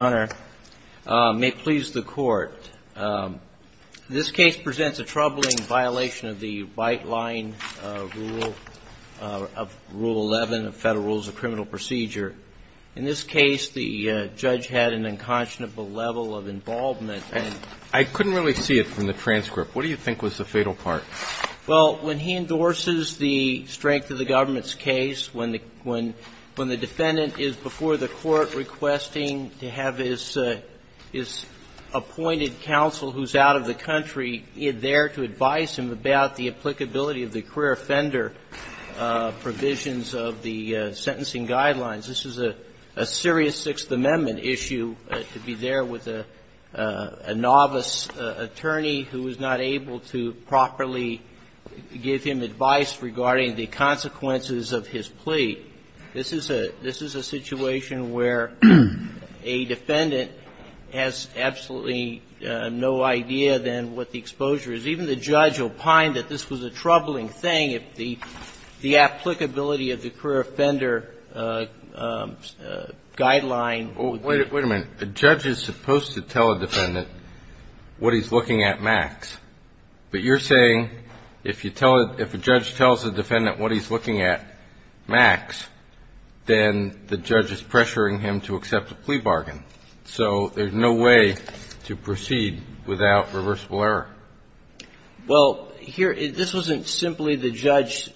may please the Court. This case presents a troubling violation of the white-line rule, of Rule 11 of Federal Rules of Criminal Procedure. In this case, the judge had an unconscionable level of involvement. I couldn't really see it from the transcript. What do you think was the fatal part? Well, when he endorses the strength of the government's case, when the defendant is before the court requesting to have his appointed counsel who's out of the country there to advise him about the applicability of the career offender provisions of the sentencing guidelines, this is a serious Sixth Amendment issue to be there with a novice attorney who is not able to properly give him advice regarding the consequences of his plea. This is a situation where a defendant has absolutely no idea, then, what the exposure is. Even the judge opined that this was a troubling thing if the applicability of the career offender guideline would be ---- Well, wait a minute. A judge is supposed to tell a defendant what he's looking at max. But you're saying if you tell a ---- if a judge tells a defendant what he's looking at max, then the judge is pressuring him to accept a plea bargain. So there's no way to proceed without reversible error. Well, here ---- this wasn't simply the judge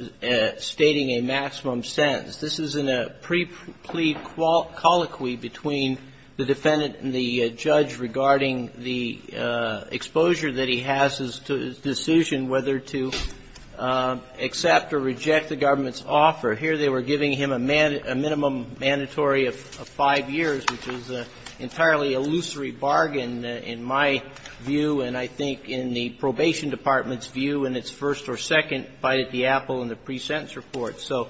stating a maximum sentence. This is in a pre-plea colloquy between the defendant and the judge regarding the exposure that he has to his offer. Here they were giving him a minimum mandatory of 5 years, which is entirely a lucery bargain in my view and I think in the Probation Department's view in its first or second bite at the apple in the pre-sentence report. So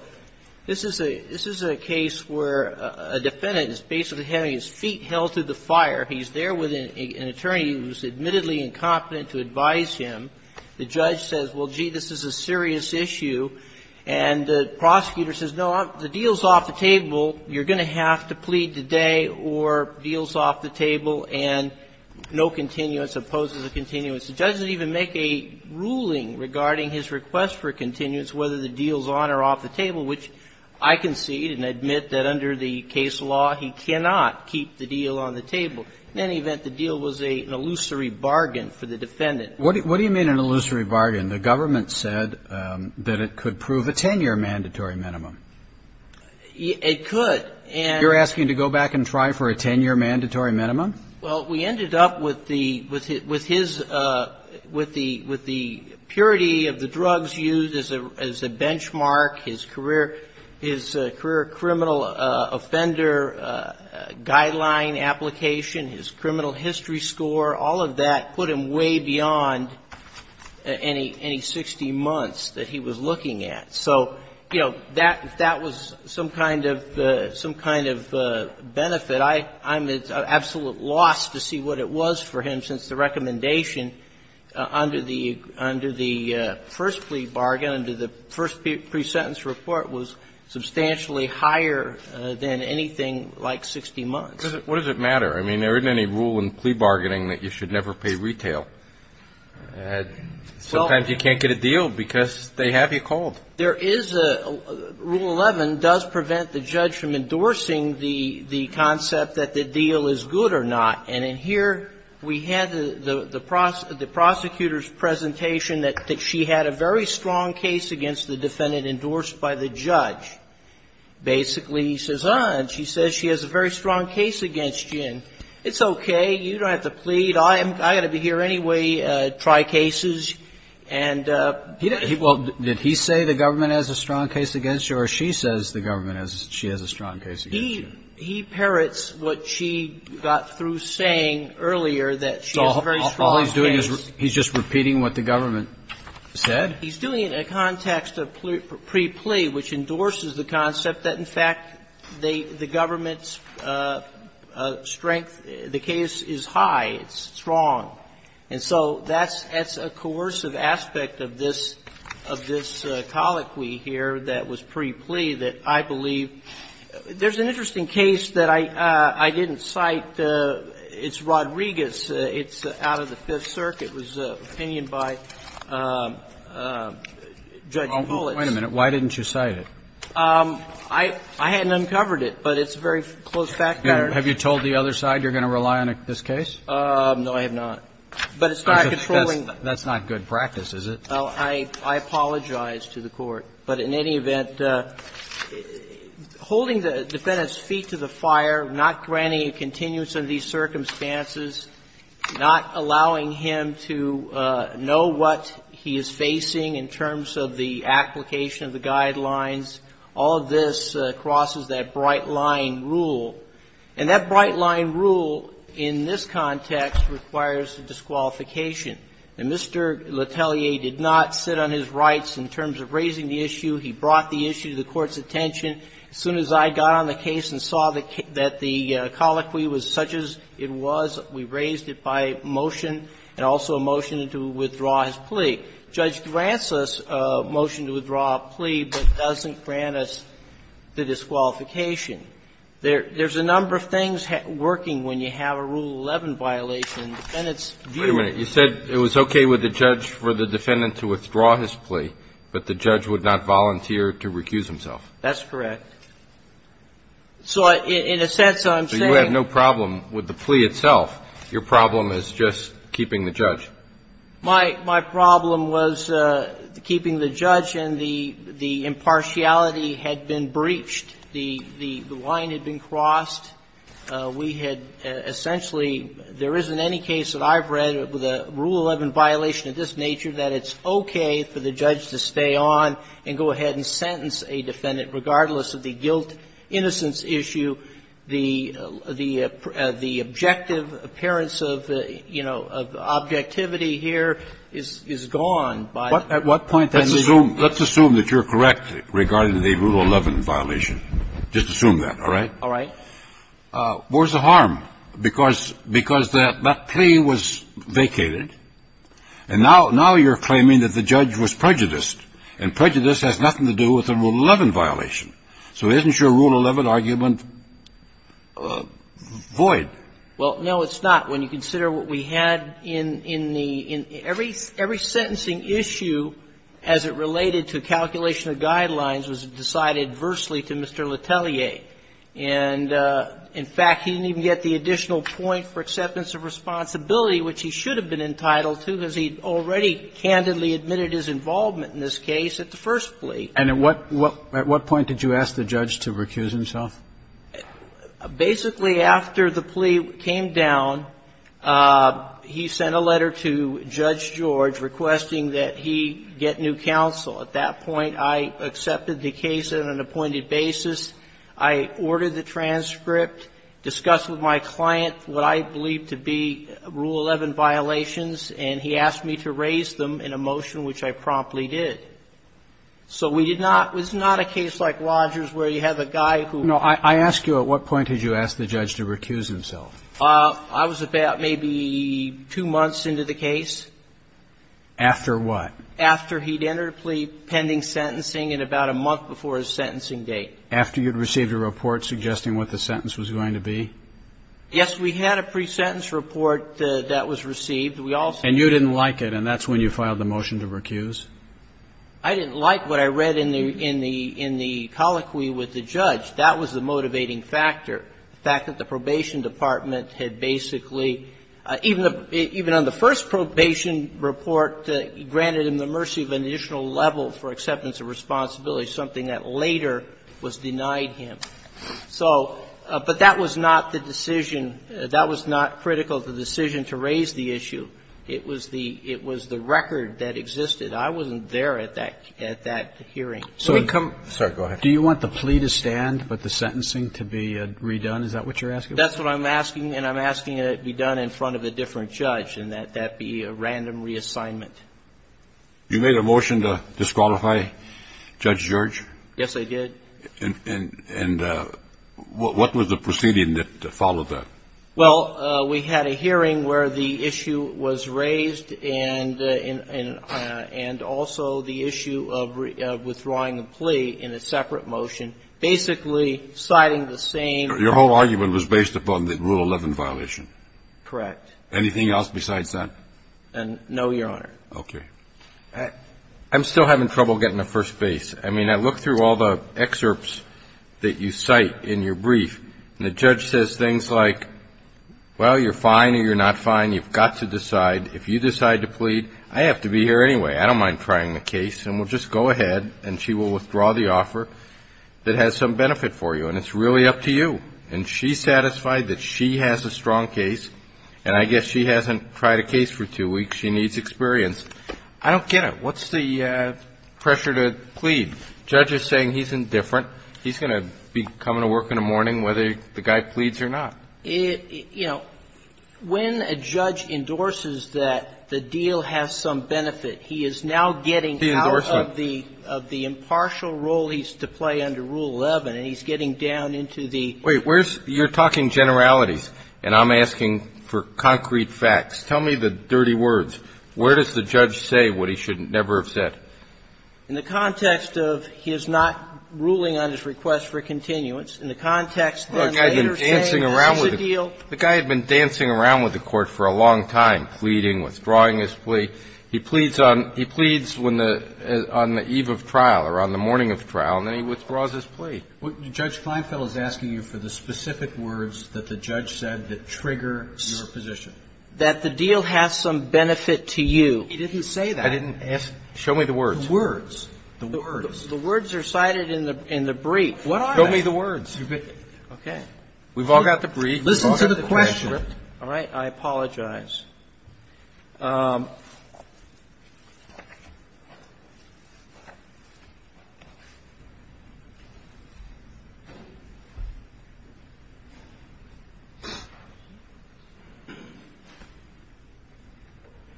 this is a case where a defendant is basically having his feet held to the fire. He's there with an attorney who's admittedly incompetent to advise him. The judge says, well, gee, this is a serious issue. And the prosecutor says, no, the deal's off the table, you're going to have to plead today or deal's off the table and no continuance, opposes a continuance. The judge doesn't even make a ruling regarding his request for continuance whether the deal's on or off the table, which I concede and admit that under the case law he cannot keep the deal on the table. In any event, the deal was an illusory bargain for the defendant. What do you mean an illusory bargain? The government said that it could prove a 10-year mandatory minimum. It could. And You're asking to go back and try for a 10-year mandatory minimum? Well, we ended up with the, with his, with the purity of the drugs used as a benchmark, his career criminal offender guideline application, his criminal history score. All of that put him way beyond any 60 months that he was looking at. So, you know, that was some kind of benefit. I'm at absolute loss to see what it was for him since the recommendation under the first plea bargain, under the first pre-sentence report was substantially higher than anything like 60 months. What does it matter? I mean, there isn't any rule in plea bargaining that you should never pay retail. Sometimes you can't get a deal because they have you called. There is a rule 11 does prevent the judge from endorsing the concept that the deal is good or not. And in here, we had the prosecutor's presentation that she had a very strong case against the defendant endorsed by the judge. Basically, he says, ah, and she says she has a very strong case against you. It's okay. You don't have to plead. I'm going to be here anyway, try cases. And he didn't Well, did he say the government has a strong case against you or she says the government has, she has a strong case against you? He parrots what she got through saying earlier that she has a very strong case. So all he's doing is he's just repeating what the government said? He's doing it in a context of pre-plea, which endorses the concept that, in fact, the government's strength, the case is high, it's strong. And so that's a coercive aspect of this colloquy here that was pre-plea that I believe There's an interesting case that I didn't cite. It's Rodriguez. It's out of the Fifth Circuit. It was an opinion by Judge Bullitt. Wait a minute. Why didn't you cite it? I hadn't uncovered it, but it's a very close fact pattern. Have you told the other side you're going to rely on this case? No, I have not. But it's not a controlling That's not good practice, is it? I apologize to the Court. But in any event, holding the defendant's feet to the fire, not granting a continuance under these circumstances, not allowing him to know what he is facing in terms of the application of the guidelines, all of this crosses that bright-line rule. And that bright-line rule in this context requires a disqualification. Now, Mr. Letellier did not sit on his rights in terms of raising the issue. He brought the issue to the Court's attention. As soon as I got on the case and saw that the colloquy was such as it was, we raised it by motion and also a motion to withdraw his plea. Judge Grant's motion to withdraw a plea, but doesn't grant us the disqualification. There's a number of things working when you have a Rule 11 violation. And it's viewed as a violation. Wait a minute. You said it was okay with the judge for the defendant to withdraw his plea, but the judge would not volunteer to recuse himself. That's correct. So in a sense, I'm saying you have no problem with the plea itself. Your problem is just keeping the judge. My problem was keeping the judge, and the impartiality had been breached. The line had been crossed. We had essentially, there isn't any case that I've read with a Rule 11 violation of this nature that it's okay for the judge to stay on and go ahead and sentence a defendant, regardless of the guilt, innocence issue. The objective appearance of, you know, objectivity here is gone. At what point then did you? Let's assume that you're correct regarding the Rule 11 violation. Just assume that, all right? Where's the harm? Because that plea was vacated, and now you're claiming that the judge was prejudiced, and prejudice has nothing to do with a Rule 11 violation. So isn't your Rule 11 argument void? Well, no, it's not. When you consider what we had in the – every sentencing issue, as it related to calculation of guidelines, was decided adversely to Mr. Letelier. And, in fact, he didn't even get the additional point for acceptance of responsibility, which he should have been entitled to, because he already candidly admitted his involvement in this case at the first plea. And at what point did you ask the judge to recuse himself? Basically, after the plea came down, he sent a letter to Judge George requesting that he get new counsel. At that point, I accepted the case on an appointed basis. I ordered the transcript, discussed with my client what I believe to be Rule 11 violations, and he asked me to raise them in a motion, which I promptly did. So we did not – it's not a case like Rogers, where you have a guy who – No. I ask you, at what point did you ask the judge to recuse himself? I was about maybe two months into the case. After what? After he'd entered a plea pending sentencing and about a month before his sentencing date. After you'd received a report suggesting what the sentence was going to be? Yes, we had a pre-sentence report that was received. We also – And you didn't like it, and that's when you filed the motion to recuse? I didn't like what I read in the – in the – in the colloquy with the judge. That was the motivating factor, the fact that the probation department had basically – even on the first probation report, granted him the mercy of an additional level for acceptance of responsibility, something that later was denied him. So – but that was not the decision. That was not critical of the decision to raise the issue. It was the – it was the record that existed. I wasn't there at that – at that hearing. So we come – Sorry. Go ahead. Do you want the plea to stand but the sentencing to be redone? Is that what you're asking? That's what I'm asking, and I'm asking that it be done in front of a different judge and that that be a random reassignment. You made a motion to disqualify Judge George? Yes, I did. And what was the proceeding that followed that? Well, we had a hearing where the issue was raised and also the issue of withdrawing the plea in a separate motion, basically citing the same – Your whole argument was based upon the Rule 11 violation. Correct. Anything else besides that? No, Your Honor. Okay. I'm still having trouble getting a first base. I mean, I look through all the excerpts that you cite in your brief, and the judge says things like, well, you're fine or you're not fine, you've got to decide. If you decide to plead, I have to be here anyway. I don't mind trying the case, and we'll just go ahead, and she will withdraw the offer that has some benefit for you. And it's really up to you. And she's satisfied that she has a strong case, and I guess she hasn't tried a case for two weeks. She needs experience. I don't get it. What's the pressure to plead? The judge is saying he's indifferent. He's going to be coming to work in the morning whether the guy pleads or not. You know, when a judge endorses that the deal has some benefit, he is now getting out of the – The endorsement. I mean, what role he's to play under Rule 11, and he's getting down into the – Wait. Where's – you're talking generalities, and I'm asking for concrete facts. Tell me the dirty words. Where does the judge say what he should never have said? In the context of his not ruling on his request for a continuance, in the context that the later saying there's a deal – The guy had been dancing around with the Court for a long time, pleading, withdrawing his plea. He pleads on the eve of trial or on the morning of trial, and then he withdraws his plea. Judge Kleinfeld is asking you for the specific words that the judge said that trigger your position. That the deal has some benefit to you. He didn't say that. I didn't ask – show me the words. The words. The words. The words are cited in the brief. Show me the words. Okay. We've all got the brief. Listen to the question. All right. I apologize.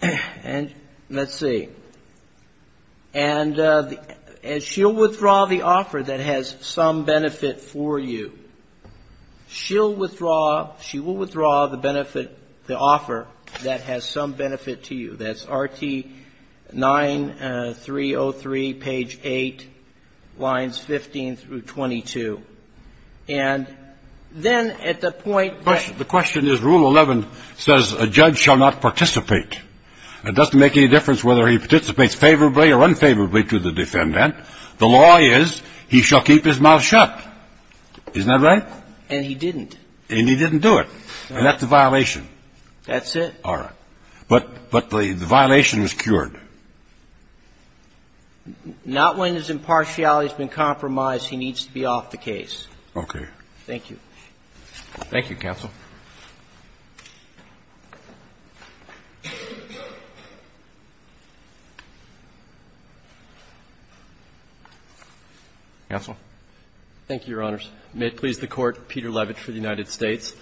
And let's see. And she'll withdraw the offer that has some benefit for you. She'll withdraw, she will withdraw the benefit, the offer that has some benefit to you. That's Rt. 9303, page 8, lines 15 through 22. And then at the point that – The question is Rule 11 says a judge shall not participate. It doesn't make any difference whether he participates favorably or unfavorably to the defendant. The law is he shall keep his mouth shut. Isn't that right? And he didn't. And he didn't do it. And that's a violation. That's it. All right. But the violation was cured. Not when his impartiality has been compromised, he needs to be off the case. Okay. Thank you. Thank you, counsel. Counsel? Thank you, Your Honors. May it please the Court. Peter Levitch for the United States.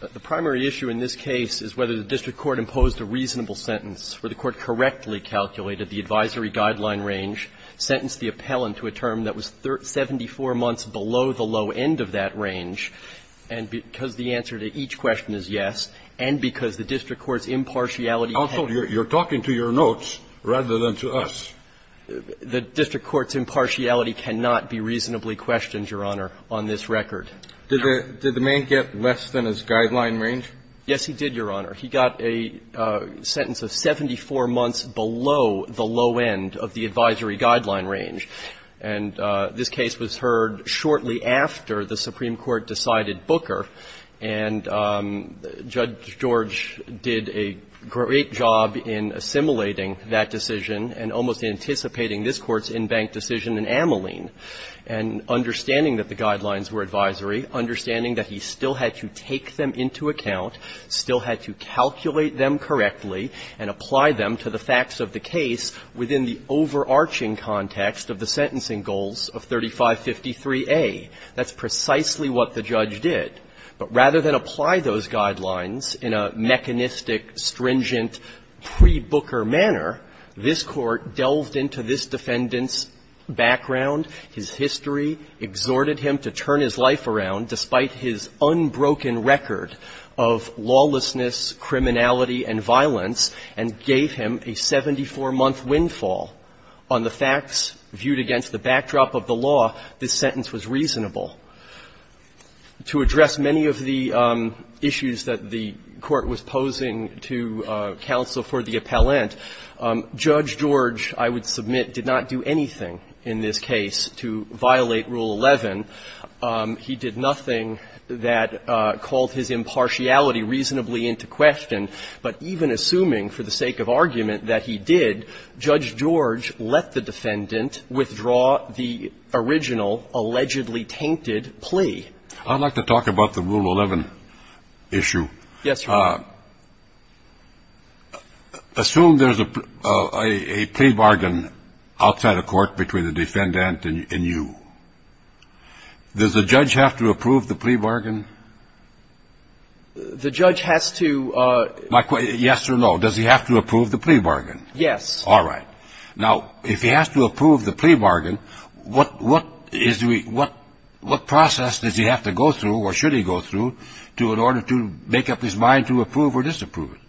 The primary issue in this case is whether the district court imposed a reasonable sentence, where the court correctly calculated the advisory guideline range, sentenced the appellant to a term that was 74 months below the low end of that range, and because the answer to each question is yes, and because the district court's impartiality has been compromised. Counsel, you're talking to your notes rather than to us. The district court's impartiality cannot be reasonably questioned, Your Honor, on this record. Did the man get less than his guideline range? Yes, he did, Your Honor. He got a sentence of 74 months below the low end of the advisory guideline range. And this case was heard shortly after the Supreme Court decided Booker. And Judge George did a great job in assimilating that decision and almost instantly in anticipating this Court's in-bank decision in Ameline, and understanding that the guidelines were advisory, understanding that he still had to take them into account, still had to calculate them correctly, and apply them to the facts of the case within the overarching context of the sentencing goals of 3553A. That's precisely what the judge did. But rather than apply those guidelines in a mechanistic, stringent, pre-Booker manner, this Court delved into this defendant's background, his history, exhorted him to turn his life around despite his unbroken record of lawlessness, criminality and violence, and gave him a 74-month windfall. On the facts viewed against the backdrop of the law, this sentence was reasonable. To address many of the issues that the Court was posing to counsel for the appellant, Judge George, I would submit, did not do anything in this case to violate Rule 11. He did nothing that called his impartiality reasonably into question. But even assuming for the sake of argument that he did, Judge George let the defendant withdraw the original allegedly tainted plea. I'd like to talk about the Rule 11 issue. Yes, Your Honor. Assume there's a plea bargain outside a court between the defendant and you. Does the judge have to approve the plea bargain? The judge has to ---- Yes or no? Does he have to approve the plea bargain? Yes. All right. Now, if he has to approve the plea bargain, what process does he have to go through or should he go through in order to make up his mind to approve or disapprove it?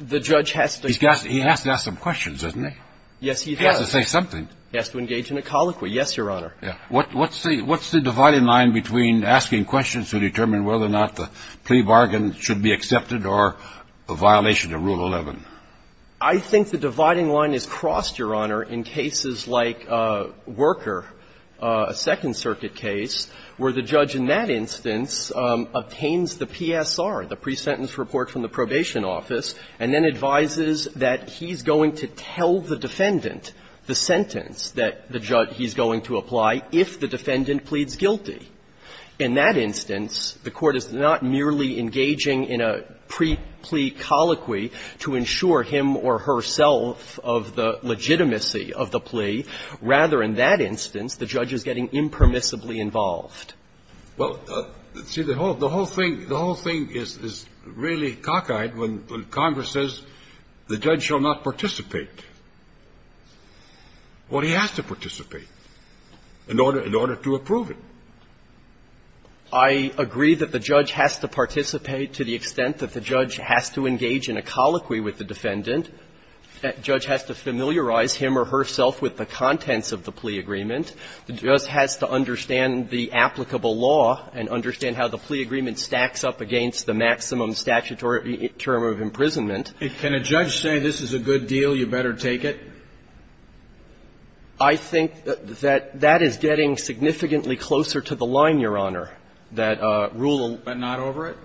The judge has to ---- He has to ask some questions, doesn't he? Yes, he does. He has to say something. He has to engage in a colloquy. Yes, Your Honor. What's the dividing line between asking questions to determine whether or not the plea bargain should be accepted or a violation of Rule 11? I think the dividing line is crossed, Your Honor, in cases like Worker, a Second Circuit case, where the judge in that instance obtains the PSR, the pre-sentence report from the probation office, and then advises that he's going to tell the defendant the sentence that the judge he's going to apply if the defendant pleads guilty. In that instance, the court is not merely engaging in a pre-plea colloquy to ensure him or herself of the legitimacy of the plea. Rather, in that instance, the judge is getting impermissibly involved. Well, see, the whole thing ---- the whole thing is really cockeyed when Congress says the judge shall not participate. Well, he has to participate in order to approve it. I agree that the judge has to participate to the extent that the judge has to engage in a colloquy with the defendant. The judge has to familiarize him or herself with the contents of the plea agreement. The judge has to understand the applicable law and understand how the plea agreement stacks up against the maximum statutory term of imprisonment. Can a judge say, this is a good deal, you better take it? I think that that is getting significantly closer to the line, Your Honor, that Rule 11. But not over it?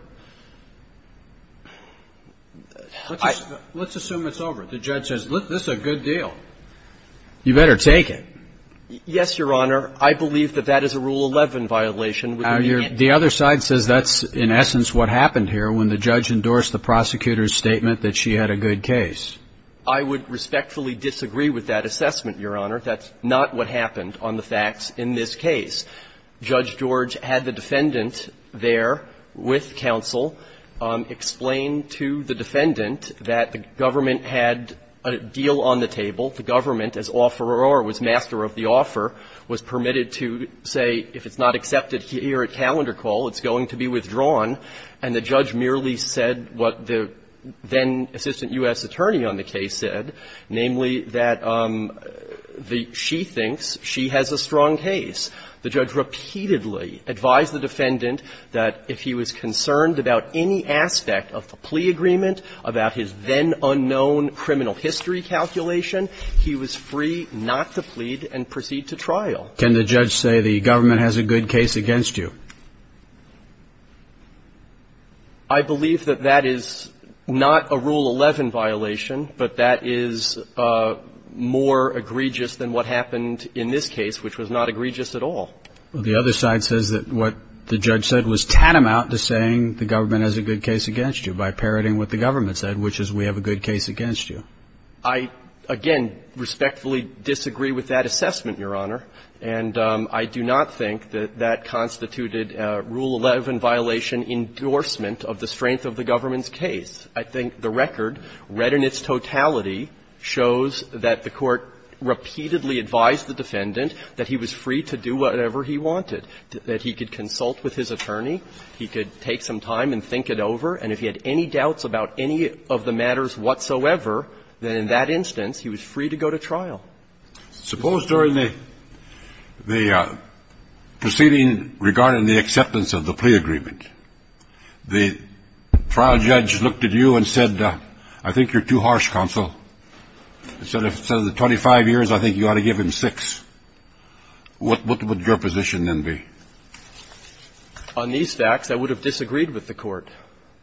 Let's assume it's over. The judge says, this is a good deal, you better take it. Yes, Your Honor. I believe that that is a Rule 11 violation. The other side says that's, in essence, what happened here when the judge endorsed the prosecutor's statement that she had a good case. I would respectfully disagree with that assessment, Your Honor. That's not what happened on the facts in this case. Judge George had the defendant there with counsel explain to the defendant that the government had a deal on the table, the government, as offeror or was master of the offer, was permitted to say, if it's not accepted here at calendar call, it's going to be withdrawn, and the judge merely said what the then-assistant U.S. attorney on the case said, namely, that she thinks she has a strong case. The judge repeatedly advised the defendant that if he was concerned about any aspect of the plea agreement, about his then-unknown criminal history calculation, he was free not to plead and proceed to trial. Can the judge say the government has a good case against you? I believe that that is not a Rule 11 violation, but that is more egregious than what happened in this case, which was not egregious at all. Well, the other side says that what the judge said was tantamount to saying the government has a good case against you by parroting what the government said, which is we have a good case against you. I, again, respectfully disagree with that assessment, Your Honor. And I do not think that that constituted a Rule 11 violation endorsement of the strength of the government's case. I think the record, read in its totality, shows that the Court repeatedly advised the defendant that he was free to do whatever he wanted, that he could consult with his attorney, he could take some time and think it over, and if he had any doubts about any of the matters whatsoever, then in that instance he was free to go to trial. Suppose during the proceeding regarding the acceptance of the plea agreement, the trial judge looked at you and said, I think you're too harsh, counsel. Instead of the 25 years, I think you ought to give him 6. What would your position then be? On these facts, I would have disagreed with the Court.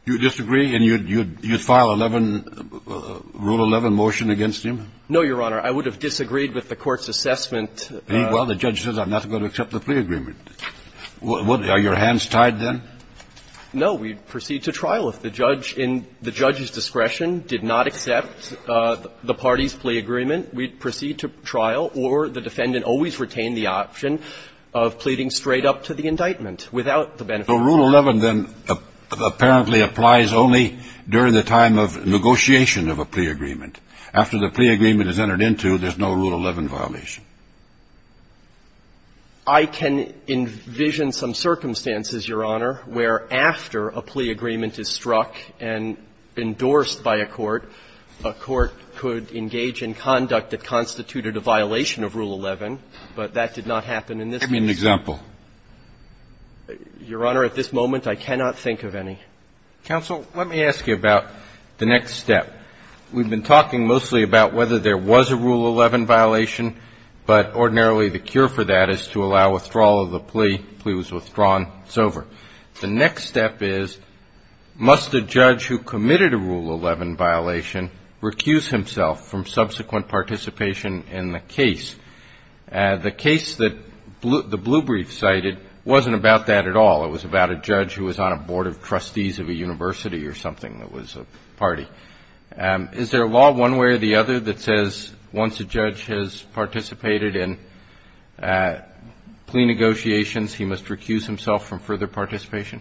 You would disagree and you would file a Rule 11 motion against him? No, Your Honor. I would have disagreed with the Court's assessment. Well, the judge says I'm not going to accept the plea agreement. Are your hands tied then? No. We'd proceed to trial. If the judge in the judge's discretion did not accept the party's plea agreement, we'd proceed to trial, or the defendant always retained the option of pleading straight up to the indictment without the benefit of the defendant. So Rule 11 then apparently applies only during the time of negotiation of a plea agreement. After the plea agreement is entered into, there's no Rule 11 violation. I can envision some circumstances, Your Honor, where after a plea agreement is struck and endorsed by a court, a court could engage in conduct that constituted a violation of Rule 11, but that did not happen in this case. Give me an example. Your Honor, at this moment, I cannot think of any. Counsel, let me ask you about the next step. We've been talking mostly about whether there was a Rule 11 violation, but ordinarily the cure for that is to allow withdrawal of the plea. Plea was withdrawn. It's over. The next step is, must a judge who committed a Rule 11 violation recuse himself from subsequent participation in the case? The case that the Blue Brief cited wasn't about that at all. It was about a judge who was on a board of trustees of a university or something that was a party. Is there a law one way or the other that says once a judge has participated in plea negotiations, he must recuse himself from further participation?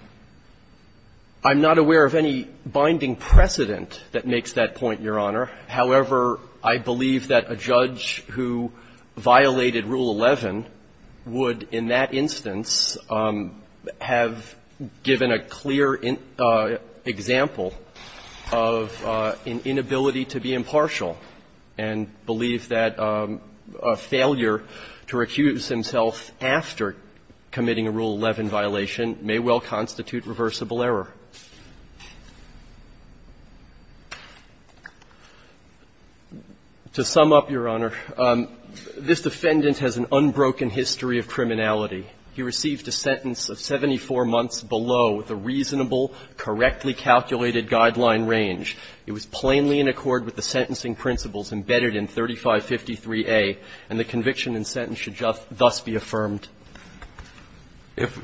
I'm not aware of any binding precedent that makes that point, Your Honor. However, I believe that a judge who violated Rule 11 would, in that instance, have given a clear example of an inability to be impartial and believe that a failure to recuse himself after committing a Rule 11 violation may well constitute reversible error. To sum up, Your Honor, this defendant has an unbroken history of criminality. He received a sentence of 74 months below the reasonable, correctly calculated guideline range. It was plainly in accord with the sentencing principles embedded in 3553A, and the conviction and sentence should thus be affirmed. If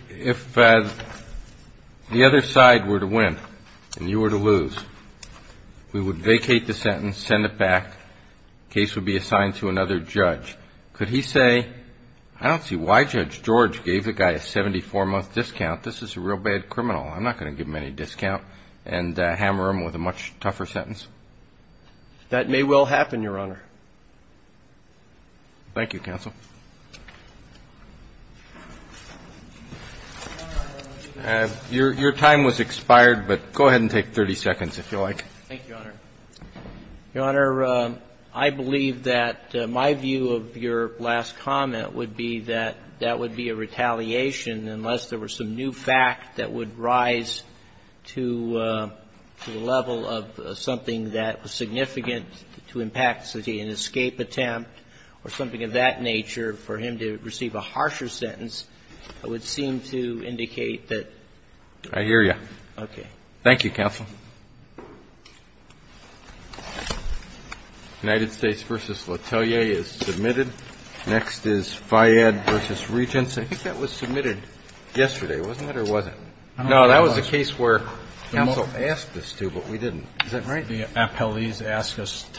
the other side were to win and you were to lose, we would vacate the sentence, send it back, case would be assigned to another judge. Could he say, I don't see why Judge George gave the guy a 74-month discount. This is a real bad criminal. I'm not going to give him any discount and hammer him with a much tougher sentence. That may well happen, Your Honor. Thank you, counsel. Your time was expired, but go ahead and take 30 seconds if you like. Thank you, Your Honor. Your Honor, I believe that my view of your last comment would be that that would be a retaliation unless there were some new fact that would rise to the level of something that was significant to impact, say, an escape attempt or something of that nature for him to receive a harsher sentence. It would seem to indicate that. I hear you. Okay. Thank you, counsel. United States v. LaTellier is submitted. Next is Fyad v. Regents. I think that was submitted yesterday, wasn't it or wasn't it? No, that was the case where counsel asked us to, but we didn't. Is that right? The appellees asked us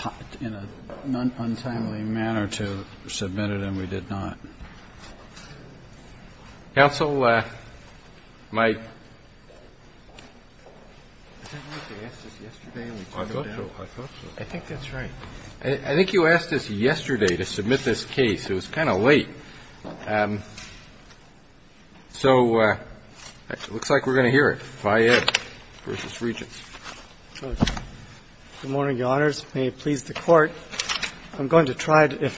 in an untimely manner to submit it and we did not. Counsel, my – I think you asked us yesterday to submit this case. It was kind of late. So it looks like we're going to hear it. Fyad v. Regents. Good morning, Your Honors. May it please the Court, I'm going to try to –